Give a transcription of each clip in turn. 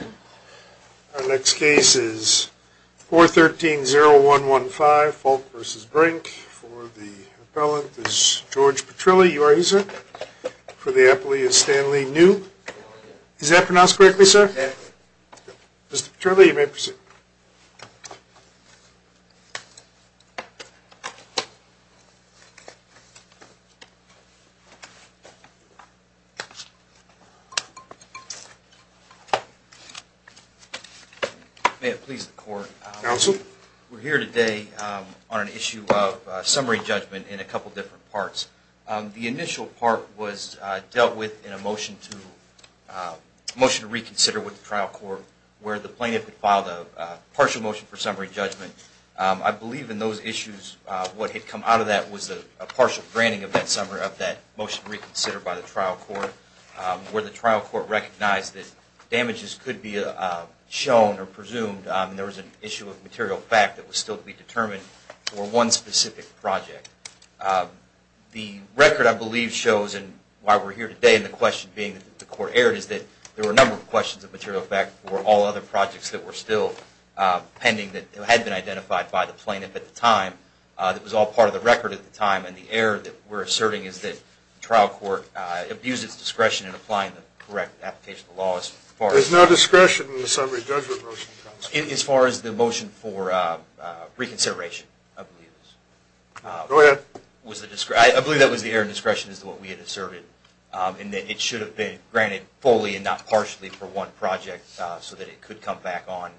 Our next case is 413-0115, Fulk v. Brink. For the appellant is George Petrilli. You are here, sir. For the appellee is Stanley New. Is that pronounced correctly, sir? Yes. Mr. Petrilli, you may proceed. May it please the court. Counsel. We're here today on an issue of summary judgment in a couple different parts. The initial part was dealt with in a motion to reconsider with the trial court, where the plaintiff had filed a partial motion for summary judgment. I believe in those issues what had come out of that was a partial granting of that motion reconsidered by the trial court, where the trial court recognized that damages could be shown or presumed, and there was an issue of material fact that was still to be determined for one specific project. The record, I believe, shows, and why we're here today, and the question being that the court erred, is that there were a number of questions of material fact for all other projects that were still pending that had been identified by the plaintiff at the time. It was all part of the record at the time, and the error that we're asserting is that the trial court abused its discretion in applying the correct application of the law. There's no discretion in the summary judgment motion. As far as the motion for reconsideration, I believe that was the error in discretion as to what we had asserted, in that it should have been granted fully and not partially for one project so that it could come back on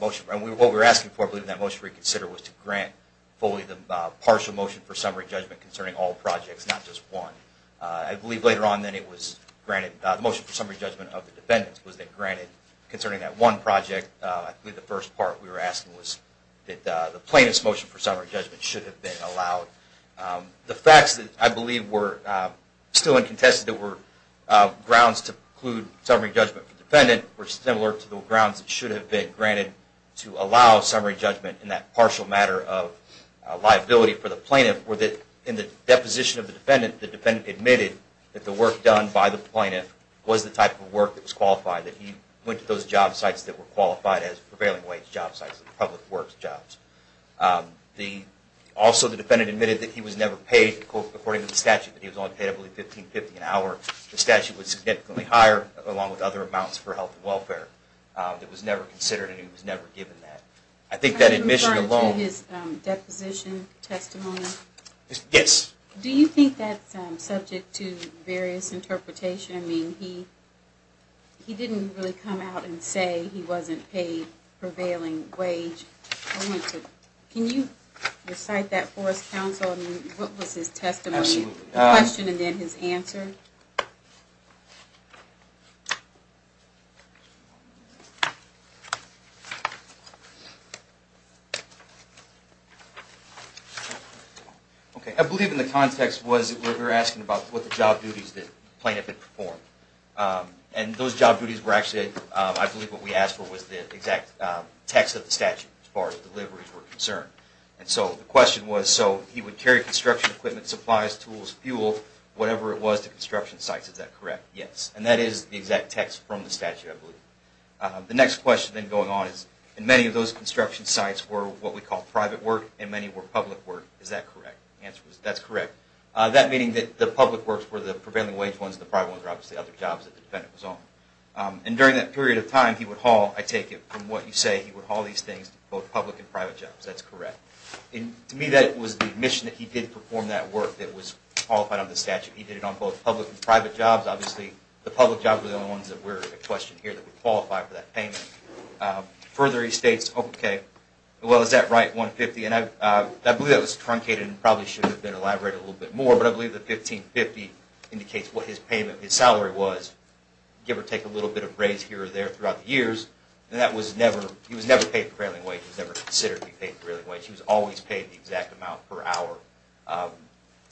motion. What we were asking for, I believe, in that motion to reconsider, was to grant fully the partial motion for summary judgment concerning all projects, not just one. I believe later on that the motion for summary judgment of the defendants was granted concerning that one project. I believe the first part we were asking was that the plaintiff's motion for summary judgment should have been allowed. The facts that I believe were still uncontested, that there were grounds to preclude summary judgment for the defendant were similar to the grounds that should have been granted to allow summary judgment in that partial matter of liability for the plaintiff, where in the deposition of the defendant, the defendant admitted that the work done by the plaintiff was the type of work that was qualified, that he went to those job sites that were qualified as prevailing wage job sites, public works jobs. Also, the defendant admitted that he was never paid, according to the statute, that he was only paid, I believe, $15.50 an hour. The statute was significantly higher, along with other amounts for health and welfare. It was never considered and he was never given that. I think that admission alone... Are you referring to his deposition testimony? Yes. Do you think that's subject to various interpretation? I mean, he didn't really come out and say he wasn't paid prevailing wage. Can you recite that for us, counsel? I mean, what was his testimony, the question and then his answer? Okay, I believe in the context was that we were asking about what the job duties that the plaintiff had performed. And those job duties were actually, I believe what we asked for was the exact text of the statute, as far as deliveries were concerned. And so the question was, so he would carry construction equipment, supplies, tools, fuel, whatever it was to construct the plane, construction sites, is that correct? Yes. And that is the exact text from the statute, I believe. The next question then going on is, and many of those construction sites were what we call private work and many were public work. Is that correct? The answer is that's correct. That meaning that the public works were the prevailing wage ones, the private ones were obviously other jobs that the defendant was on. And during that period of time, he would haul, I take it from what you say, he would haul these things, both public and private jobs. That's correct. To me, that was the admission that he did perform that work that was qualified under the statute. He did it on both public and private jobs. Obviously, the public jobs were the only ones that were a question here that would qualify for that payment. Further, he states, okay, well, is that right, 150? And I believe that was truncated and probably should have been elaborated a little bit more, but I believe that 1550 indicates what his payment, his salary was, give or take a little bit of raise here or there throughout the years. And that was never, he was never paid prevailing wage. He was never considered to be paid prevailing wage. He was always paid the exact amount per hour.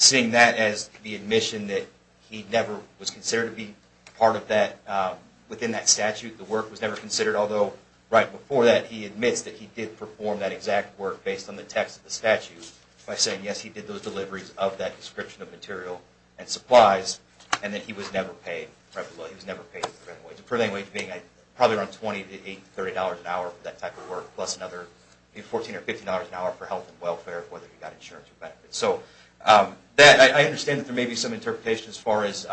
Seeing that as the admission that he never was considered to be part of that, within that statute, the work was never considered, although right before that, he admits that he did perform that exact work based on the text of the statute, by saying, yes, he did those deliveries of that description of material and supplies, and that he was never paid prevailing wage. Prevailing wage being probably around $20 to $30 an hour for that type of work, plus another $14 or $15 an hour for health and welfare, whether he got insurance or benefits. So that, I understand that there may be some interpretation as far as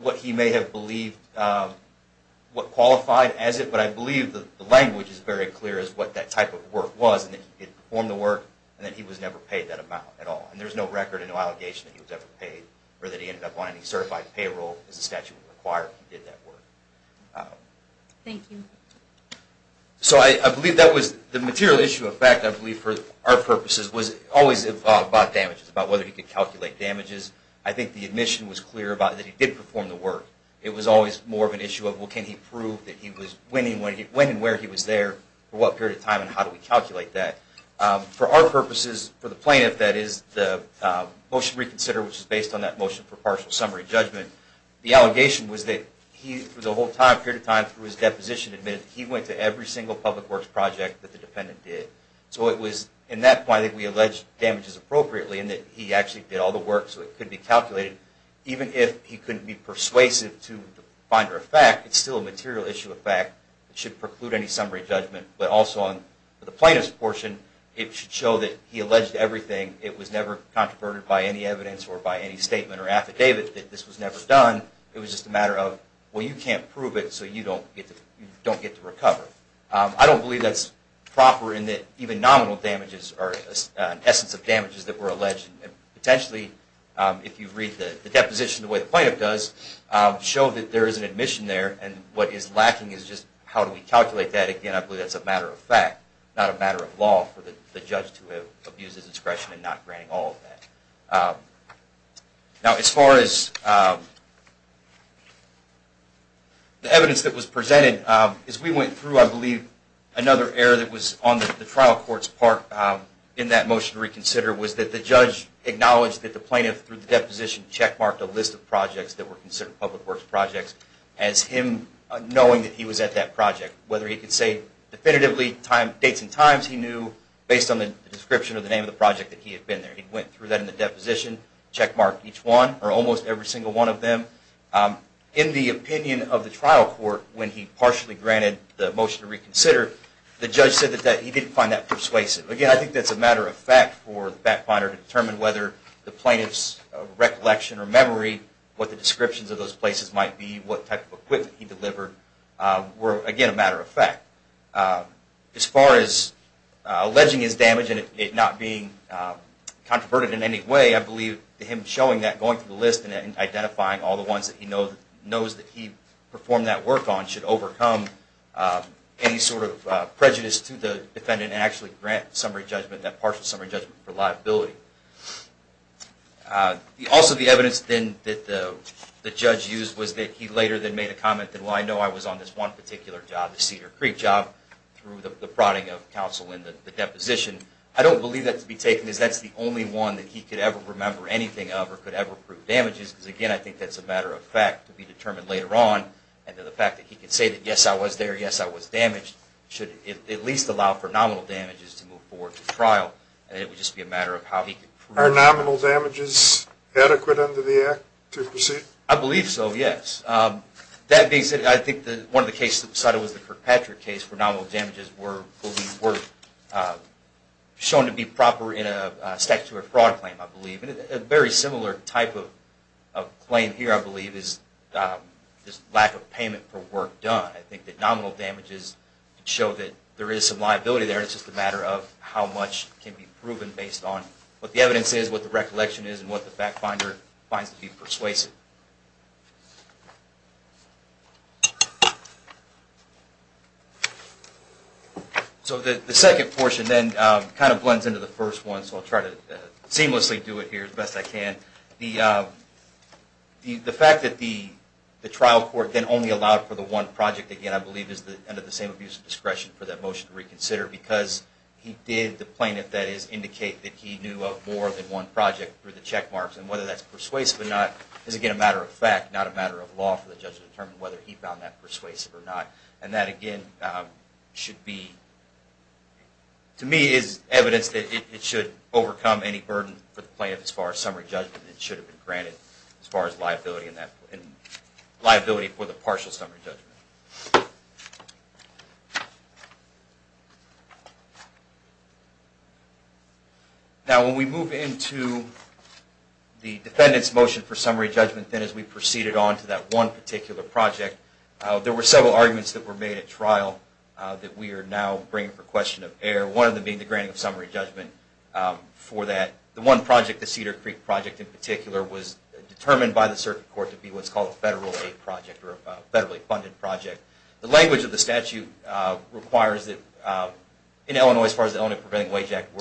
what he may have believed, what qualified as it, but I believe the language is very clear as what that type of work was, and that he did perform the work, and that he was never paid that amount at all. And there's no record and no allegation that he was ever paid, or that he ended up on any certified payroll as the statute would require if he did that work. Thank you. So I believe that was the material issue of fact, I believe for our purposes, was always involved about damages, about whether he could calculate damages. I think the admission was clear about that he did perform the work. It was always more of an issue of, well, can he prove that he was, when and where he was there, for what period of time, and how do we calculate that? For our purposes, for the plaintiff, that is, the motion reconsider, which is based on that motion for partial summary judgment, the allegation was that he, for the whole time, period of time, through his deposition, admitted that he went to every single public works project that the defendant did. So it was in that point that we alleged damages appropriately, and that he actually did all the work so it could be calculated. Even if he couldn't be persuasive to the binder of fact, it's still a material issue of fact. It should preclude any summary judgment. But also on the plaintiff's portion, it should show that he alleged everything. It was never controverted by any evidence or by any statement or affidavit that this was never done. It was just a matter of, well, you can't prove it, so you don't get to recover. I don't believe that's proper in that even nominal damages are an essence of damages that were alleged. Potentially, if you read the deposition the way the plaintiff does, show that there is an admission there, and what is lacking is just how do we calculate that. Again, I believe that's a matter of fact, not a matter of law for the judge to abuse his discretion in not granting all of that. Now, as far as the evidence that was presented, as we went through, I believe, another error that was on the trial court's part in that motion to reconsider was that the judge acknowledged that the plaintiff, through the deposition, checkmarked a list of projects that were considered public works projects, as him knowing that he was at that project, whether he could say definitively dates and times he knew, based on the description of the name of the project that he had been there. He went through that in the deposition, checkmarked each one, or almost every single one of them. In the opinion of the trial court, when he partially granted the motion to reconsider, the judge said that he didn't find that persuasive. Again, I think that's a matter of fact for the fact finder to determine whether the plaintiff's recollection or memory, what the descriptions of those places might be, what type of equipment he delivered, were, again, a matter of fact. As far as alleging his damage and it not being controverted in any way, I believe him showing that, going through the list and identifying all the ones that he knows that he performed that work on should overcome any sort of prejudice to the defendant and actually grant that partial summary judgment for liability. Also, the evidence that the judge used was that he later then made a comment that, well, I know I was on this one particular job, the Cedar Creek job, through the prodding of counsel in the deposition. I don't believe that to be taken as that's the only one that he could ever remember anything of or could ever prove damages, because, again, I think that's a matter of fact to be determined later on. And the fact that he could say that, yes, I was there, yes, I was damaged, should at least allow for nominal damages to move forward to trial. And it would just be a matter of how he could prove it. Are nominal damages adequate under the act to proceed? I believe so, yes. That being said, I think one of the cases cited was the Kirkpatrick case, where nominal damages were shown to be proper in a statute of fraud claim, I believe. And a very similar type of claim here, I believe, is this lack of payment for work done. I think that nominal damages show that there is some liability there, and it's just a matter of how much can be proven based on what the evidence is, what the recollection is, and what the fact finder finds to be persuasive. So the second portion then kind of blends into the first one, so I'll try to seamlessly do it here as best I can. The fact that the trial court then only allowed for the one project, again, I believe, is under the same abuse of discretion for that motion to reconsider, because he did, the plaintiff, that is, indicate that he knew of more than one project through the checkmarks. And whether that's persuasive or not is, again, a matter of fact, not a matter of law for the judge to determine whether he found that persuasive or not. And that, again, should be, to me, is evidence that it should overcome any burden for the plaintiff as far as summary judgment. It should have been granted as far as liability for the partial summary judgment. Now, when we move into the defendant's motion for summary judgment, then as we proceeded on to that one particular project, there were several arguments that were made at trial that we are now bringing for question of error. One of them being the granting of summary judgment for that. The one project, the Cedar Creek project in particular, was determined by the circuit court to be what's called a federal aid project or a federally funded project. The language of the statute requires that in Illinois, as far as the Illinois Preventing Wage Act,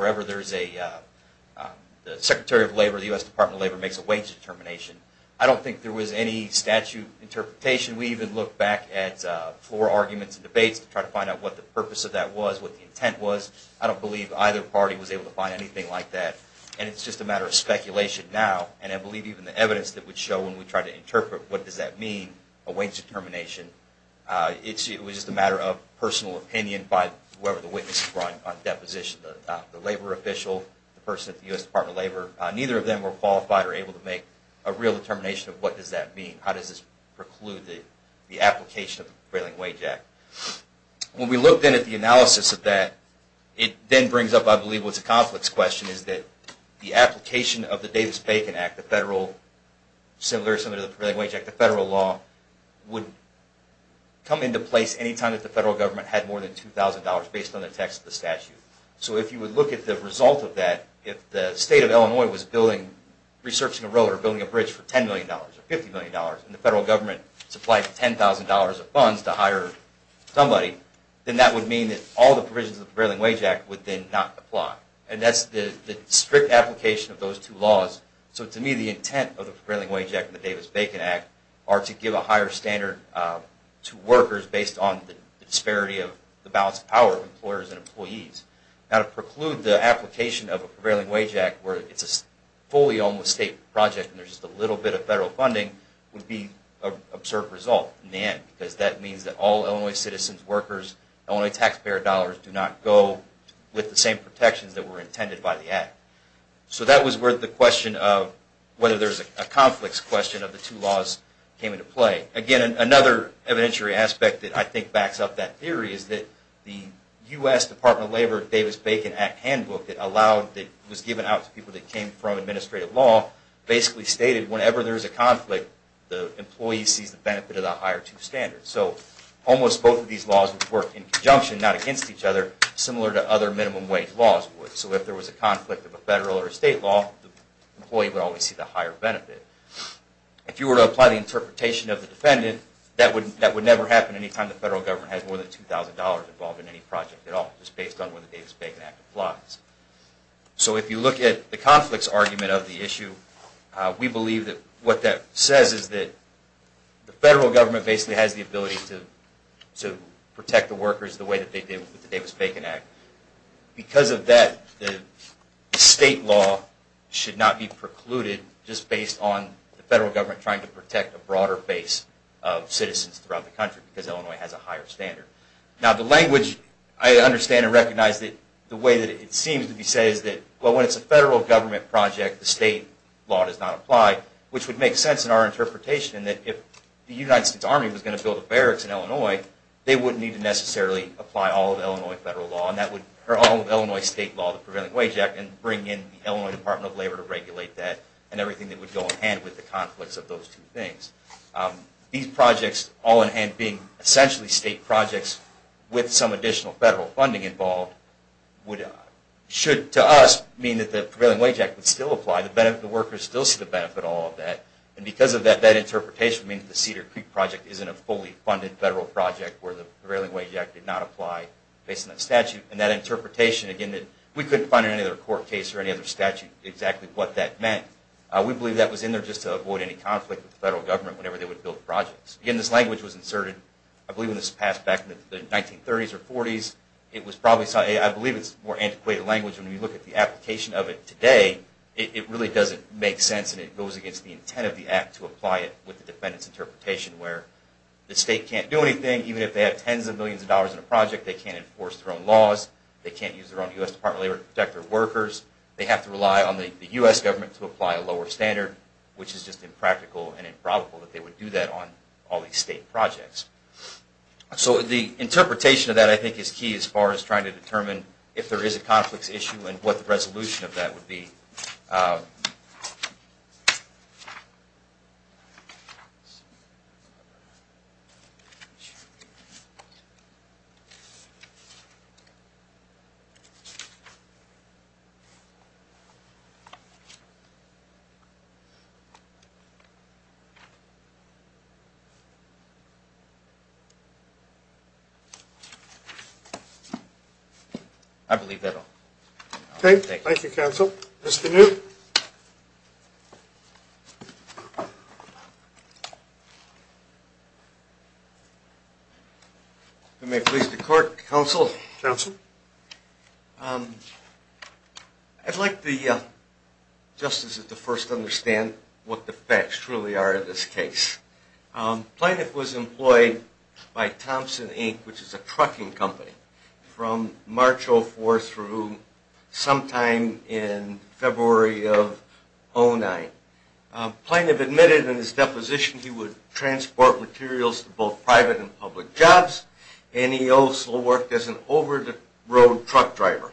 the Secretary of Labor of the U.S. Department of Labor makes a wage determination. I don't think there was any statute interpretation. We even looked back at floor arguments and debates to try to find out what the purpose of that was, what the intent was. I don't believe either party was able to find anything like that. And it's just a matter of speculation now. And I believe even the evidence that we show when we try to interpret what does that mean, a wage determination, it was just a matter of personal opinion by whoever the witness brought on deposition, the labor official, the person at the U.S. Department of Labor. Neither of them were qualified or able to make a real determination of what does that mean, how does this preclude the application of the Preventing Wage Act. When we looked in at the analysis of that, it then brings up, I believe, what's a complex question, is that the application of the Davis-Bacon Act, similar to the Preventing Wage Act, the federal law, would come into place any time that the federal government had more than $2,000 based on the text of the statute. So if you would look at the result of that, if the state of Illinois was researching a road or building a bridge for $10 million or $50 million and the federal government supplied $10,000 of funds to hire somebody, then that would mean that all the provisions of the Preventing Wage Act would then not apply. And that's the strict application of those two laws. So to me, the intent of the Preventing Wage Act and the Davis-Bacon Act are to give a higher standard to workers based on the disparity of the balance of power of employers and employees. Now to preclude the application of a Preventing Wage Act where it's a fully owned state project and there's just a little bit of federal funding would be an absurd result in the end, because that means that all Illinois citizens, workers, Illinois taxpayer dollars do not go with the same protections that were intended by the Act. So that was where the question of whether there's a conflicts question of the two laws came into play. Again, another evidentiary aspect that I think backs up that theory is that the U.S. Department of Labor Davis-Bacon Act handbook that was given out to people that came from administrative law basically stated whenever there's a conflict, the employee sees the benefit of the higher two standards. So almost both of these laws would work in conjunction, not against each other, similar to other minimum wage laws would. So if there was a conflict of a federal or state law, the employee would always see the higher benefit. If you were to apply the interpretation of the defendant, that would never happen any time the federal government has more than $2,000 involved in any project at all, just based on whether the Davis-Bacon Act applies. So if you look at the conflicts argument of the issue, we believe that what that says is that the federal government basically has the ability to protect the workers the way that they did with the Davis-Bacon Act. Because of that, the state law should not be precluded just based on the federal government trying to protect a broader base of citizens throughout the country, because Illinois has a higher standard. Now the language, I understand and recognize that the way that it seems to be said is that well, when it's a federal government project, the state law does not apply, which would make sense in our interpretation that if the United States Army was going to build a barracks in Illinois, they wouldn't need to necessarily apply all of Illinois state law, the Preventing Wage Act, and bring in the Illinois Department of Labor to regulate that and everything that would go in hand with the conflicts of those two things. These projects all in hand being essentially state projects with some additional federal funding involved should to us mean that the Preventing Wage Act would still apply. The workers still see the benefit of all of that. And because of that, that interpretation means that the Cedar Creek Project isn't a fully funded federal project where the Preventing Wage Act did not apply based on that statute. And that interpretation, again, we couldn't find in any other court case or any other statute exactly what that meant. We believe that was in there just to avoid any conflict with the federal government whenever they would build projects. Again, this language was inserted, I believe, in this past back in the 1930s or 40s. I believe it's a more antiquated language. When you look at the application of it today, it really doesn't make sense and it goes against the intent of the act to apply it with the defendant's interpretation where the state can't do anything even if they have tens of millions of dollars in a project. They can't enforce their own laws. They can't use their own U.S. Department of Labor to protect their workers. They have to rely on the U.S. government to apply a lower standard, which is just impractical and improbable that they would do that on all these state projects. So the interpretation of that, I think, is key as far as trying to determine I believe that will take it. Thank you, counsel. Mr. Newt. If I may please the court, counsel. Counsel. I'd like the justices to first understand what the facts truly are in this case. Plaintiff was employed by Thompson, Inc., which is a trucking company, from March 04 through sometime in February of 09. Plaintiff admitted in his deposition he would transport materials to both private and public jobs and he also worked as an over-the-road truck driver.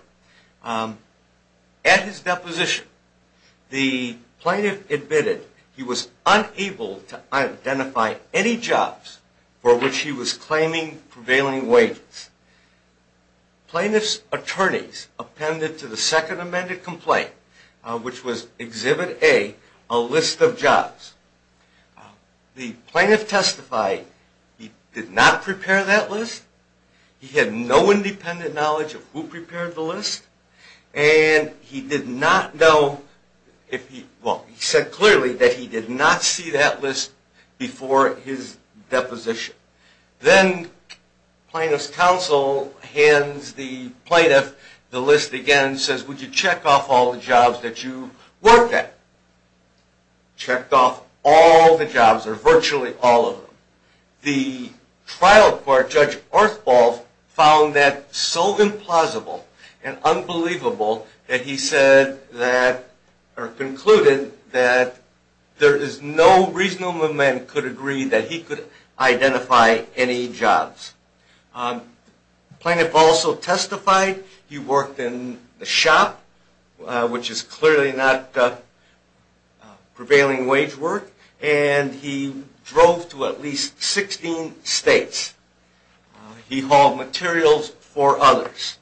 At his deposition, the plaintiff admitted he was unable to identify any jobs for which he was claiming prevailing wages. Plaintiff's attorneys appended to the second amended complaint, which was Exhibit A, a list of jobs. The plaintiff testified he did not prepare that list, he had no independent knowledge of who prepared the list, and he said clearly that he did not see that list before his deposition. Then plaintiff's counsel hands the plaintiff the list again and says, would you check off all the jobs that you worked at? Checked off all the jobs, or virtually all of them. The trial court, Judge Ortholf, found that so implausible and unbelievable that he said that, or concluded that, there is no reasonable man who could agree that he could identify any jobs. The plaintiff also testified he worked in a shop, which is clearly not prevailing wage work, and he drove to at least 16 states. He hauled materials for others.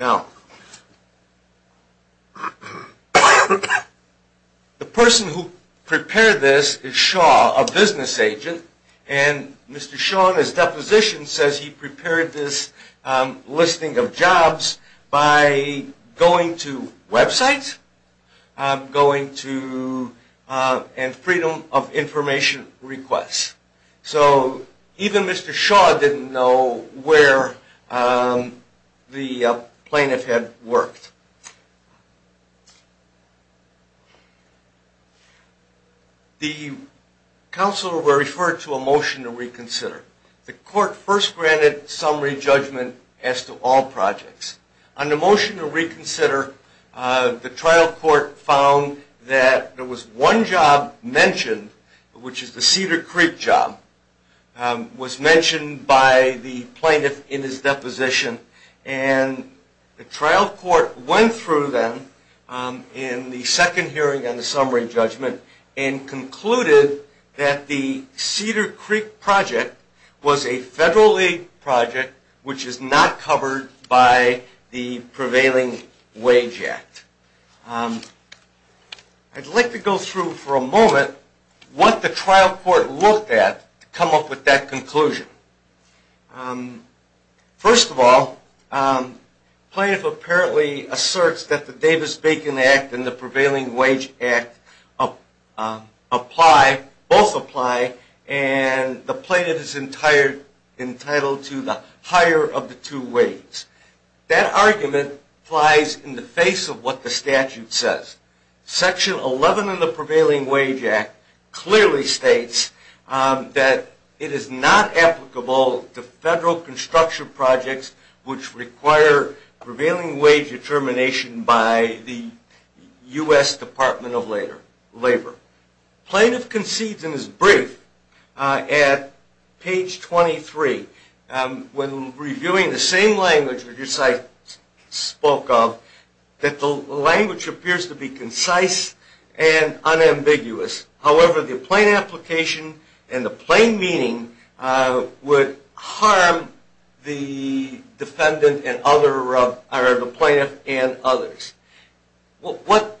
Now, the person who prepared this is Shaw, a business agent, and Mr. Shaw in his deposition says he prepared this listing of jobs by going to websites and Freedom of Information requests. So even Mr. Shaw didn't know where the plaintiff had worked. The counsel were referred to a motion to reconsider. The court first granted summary judgment as to all projects. On the motion to reconsider, the trial court found that there was one job mentioned, which is the Cedar Creek job. It was mentioned by the plaintiff in his deposition, and the trial court went through them in the second hearing on the summary judgment and concluded that the Cedar Creek project was a federal-aid project, which is not covered by the prevailing wage act. I'd like to go through for a moment what the trial court looked at to come up with that conclusion. First of all, the plaintiff apparently asserts that the Davis-Bacon Act and the prevailing wage act both apply, and the plaintiff is entitled to the higher of the two wages. That argument applies in the face of what the statute says. Section 11 of the prevailing wage act clearly states that it is not applicable to federal construction projects which require prevailing wage determination by the U.S. Department of Labor. The plaintiff concedes in his brief at page 23, when reviewing the same language which I spoke of, that the language appears to be concise and unambiguous. However, the plain application and the plain meaning would harm the plaintiff and others. What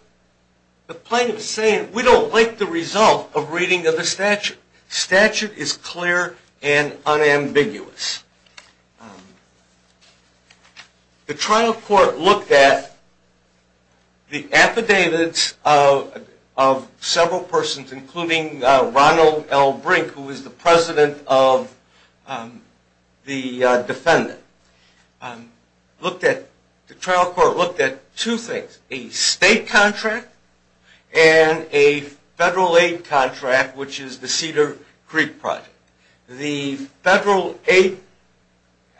the plaintiff is saying, we don't like the result of reading of the statute. Statute is clear and unambiguous. The trial court looked at the affidavits of several persons, including Ronald L. Brink, who is the president of the defendant. The trial court looked at two things, a state contract and a federal aid contract, which is the Cedar Creek project. The federal aid,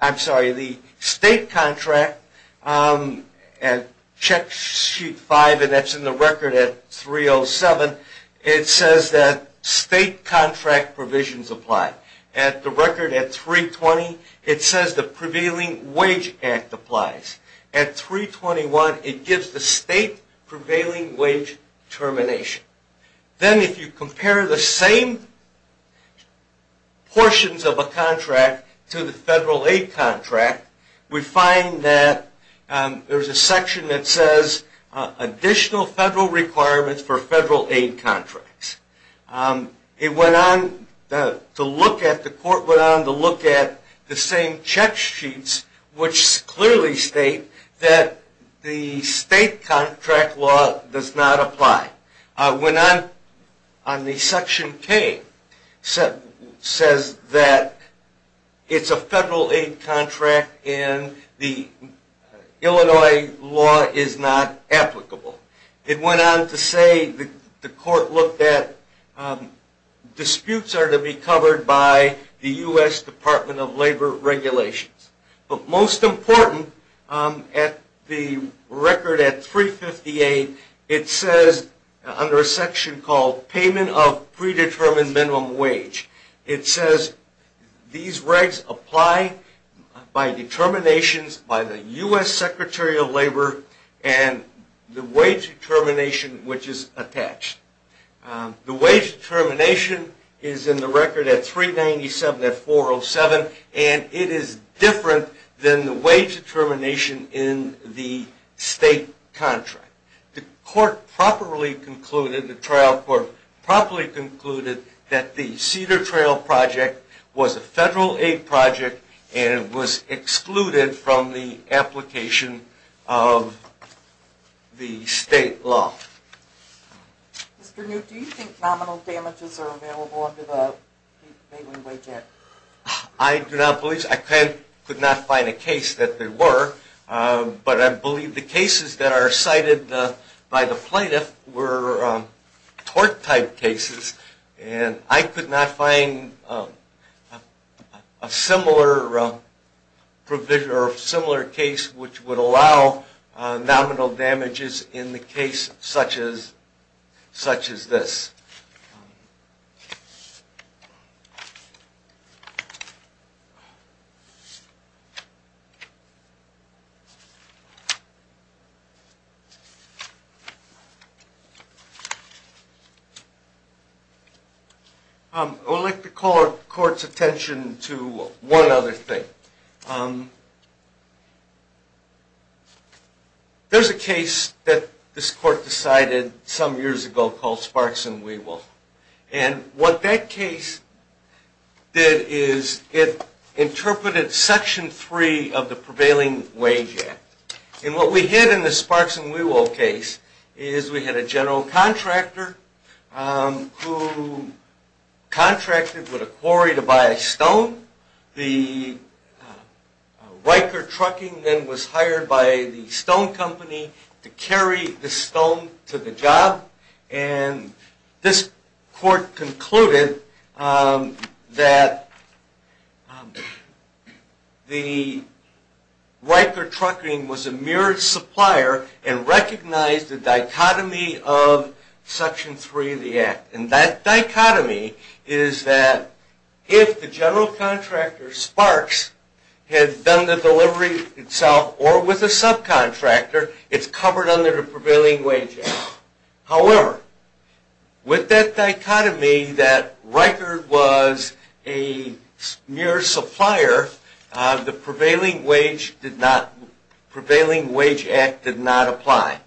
I'm sorry, the state contract at check sheet 5, and that's in the record at 307, it says that state contract provisions apply. At the record at 320, it says the prevailing wage act applies. At 321, it gives the state prevailing wage termination. Then if you compare the same portions of a contract to the federal aid contract, we find that there's a section that says additional federal requirements for federal aid contracts. It went on to look at, the court went on to look at the same check sheets, which clearly state that the state contract law does not apply. It went on, on the section K, says that it's a federal aid contract and the Illinois law is not applicable. It went on to say, the court looked at, disputes are to be covered by the U.S. Department of Labor regulations. But most important, at the record at 358, it says, under a section called payment of predetermined minimum wage, it says these rights apply by determinations by the U.S. Secretary of Labor and the wage termination which is attached. The wage termination is in the record at 397, at 407, and it is different than the wage termination in the state contract. The court properly concluded, the trial court properly concluded, that the Cedar Trail project was a federal aid project and it was excluded from the application of the state law. Mr. Newt, do you think nominal damages are available under the bailing wage act? I do not believe so. I could not find a case that they were, but I believe the cases that are cited by the plaintiff were tort type cases and I could not find a similar provision or similar case which would allow nominal damages in the case such as this. I would like to call the court's attention to one other thing. There is a case that this court decided some years ago called Sparks and Wewolf and what that case did is it interpreted section 3 of the prevailing wage act and what we did in the Sparks and Wewolf case is we had a general contractor who contracted with a quarry to buy a stone. The Riker Trucking then was hired by the stone company to carry the stone to the job and this court concluded that the Riker Trucking was a mirrored supplier and recognized the dichotomy of section 3 of the act. That dichotomy is that if the general contractor Sparks had done the delivery itself or with a subcontractor, it's covered under the prevailing wage act. However, with that dichotomy that Riker was a mirrored supplier, the prevailing wage act did not apply.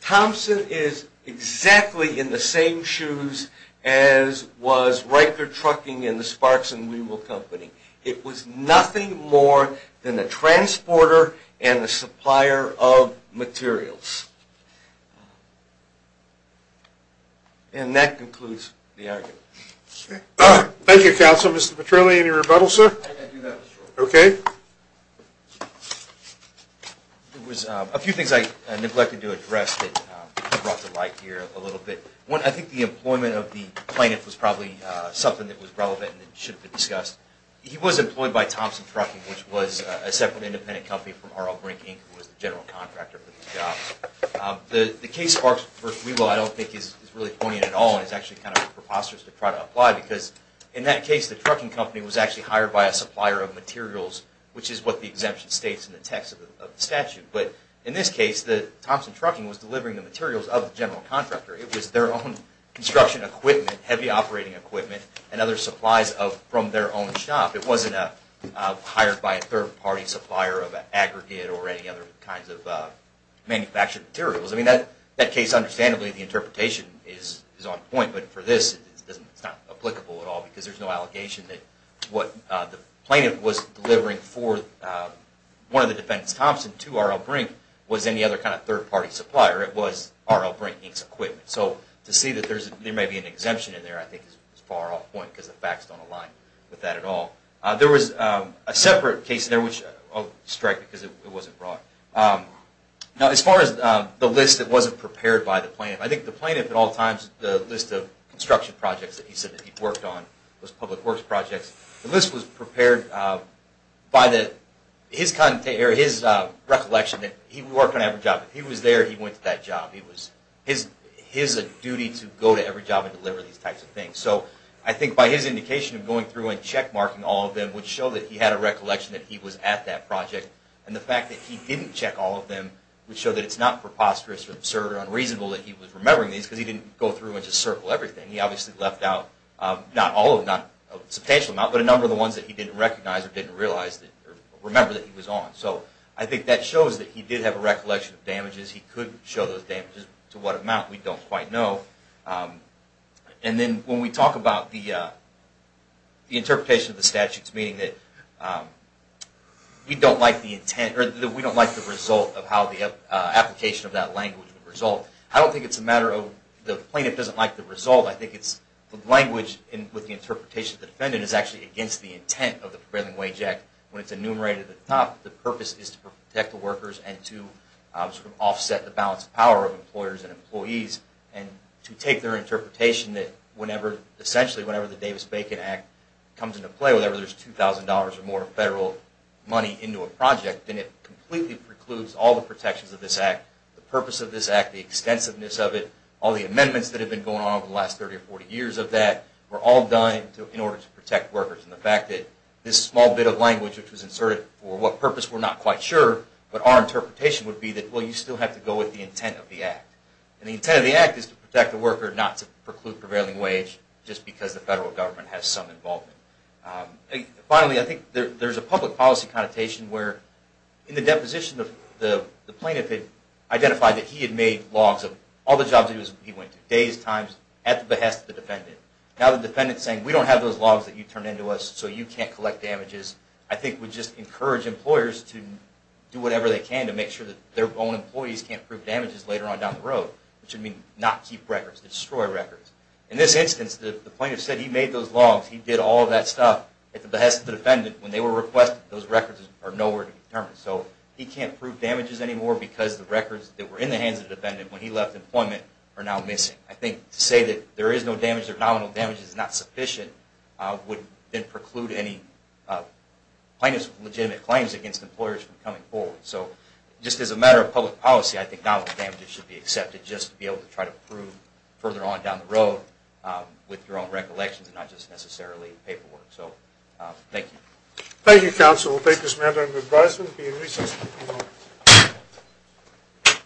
Thompson is exactly in the same shoes as was Riker Trucking and the Sparks and Wewolf company. It was nothing more than a transporter and a supplier of materials. And that concludes the argument. Thank you, counsel. Mr. Petrilli, any rebuttal, sir? I do have a short one. Okay. There was a few things I neglected to address that brought to light here a little bit. One, I think the employment of the plaintiff was probably something that should have been discussed. He was employed by Thompson Trucking, which was a separate independent company from R.L. Brink, who was the general contractor for these jobs. The case Sparks v. Wewolf I don't think is really poignant at all and is actually kind of preposterous to try to apply because in that case the trucking company was actually hired by a supplier of materials, which is what the exemption states in the text of the statute. But in this case, Thompson Trucking was delivering the materials of the general contractor. It was their own construction equipment, heavy operating equipment, and other supplies from their own shop. It wasn't hired by a third-party supplier of an aggregate or any other kinds of manufactured materials. I mean, in that case, understandably, the interpretation is on point. But for this, it's not applicable at all because there's no allegation that what the plaintiff was delivering for one of the defendants, Thompson, to R.L. Brink was any other kind of third-party supplier. It was R.L. Brink Inc.'s equipment. So to see that there may be an exemption in there I think is far off point because the facts don't align with that at all. There was a separate case in there, which I'll strike because it wasn't brought. Now, as far as the list that wasn't prepared by the plaintiff, I think the plaintiff at all times, the list of construction projects that he said that he'd worked on, those public works projects, the list was prepared by his recollection that he worked on every job. If he was there, he went to that job. It was his duty to go to every job and deliver these types of things. So I think by his indication of going through and checkmarking all of them would show that he had a recollection that he was at that project. And the fact that he didn't check all of them would show that it's not preposterous or absurd or unreasonable that he was remembering these because he didn't go through and just circle everything. He obviously left out not all of them, not a substantial amount, but a number of the ones that he didn't recognize or didn't realize or remember that he was on. So I think that shows that he did have a recollection of damages. He could show those damages. To what amount, we don't quite know. And then when we talk about the interpretation of the statutes, meaning that we don't like the intent or we don't like the result of how the application of that language would result. I don't think it's a matter of the plaintiff doesn't like the result. I think it's the language with the interpretation of the defendant is actually against the intent of the Prevailing Wage Act. When it's enumerated at the top, the purpose is to protect the workers and to offset the balance of power of employers and employees and to take their interpretation that whenever, essentially whenever the Davis-Bacon Act comes into play, whenever there's $2,000 or more of federal money into a project, then it completely precludes all the protections of this act, the purpose of this act, the extensiveness of it, all the amendments that have been going on over the last 30 or 40 years of that were all done in order to protect workers. And the fact that this small bit of language which was inserted for what purpose we're not quite sure, but our interpretation would be that well, you still have to go with the intent of the act. And the intent of the act is to protect the worker, not to preclude prevailing wage just because the federal government has some involvement. Finally, I think there's a public policy connotation where in the deposition, the plaintiff had identified that he had made logs of all the jobs he went to, days, times, at the behest of the defendant. Now the defendant is saying we don't have those logs that you turned in to us so you can't collect damages, I think would just encourage employers to do whatever they can to make sure that their own employees can't prove damages later on down the road, which would mean not keep records, destroy records. In this instance, the plaintiff said he made those logs, he did all of that stuff at the behest of the defendant when they were requested. Those records are nowhere to be determined. So he can't prove damages anymore because the records that were in the hands of the defendant when he left employment are now missing. I think to say that there is no damage or nominal damage is not sufficient would preclude any plaintiff's legitimate claims against employers from coming forward. So just as a matter of public policy, I think nominal damages should be accepted just to be able to try to prove further on down the road with your own recollections and not just necessarily paperwork. So thank you. Thank you, counsel. We'll take this matter into advisement. Be in recess until tomorrow.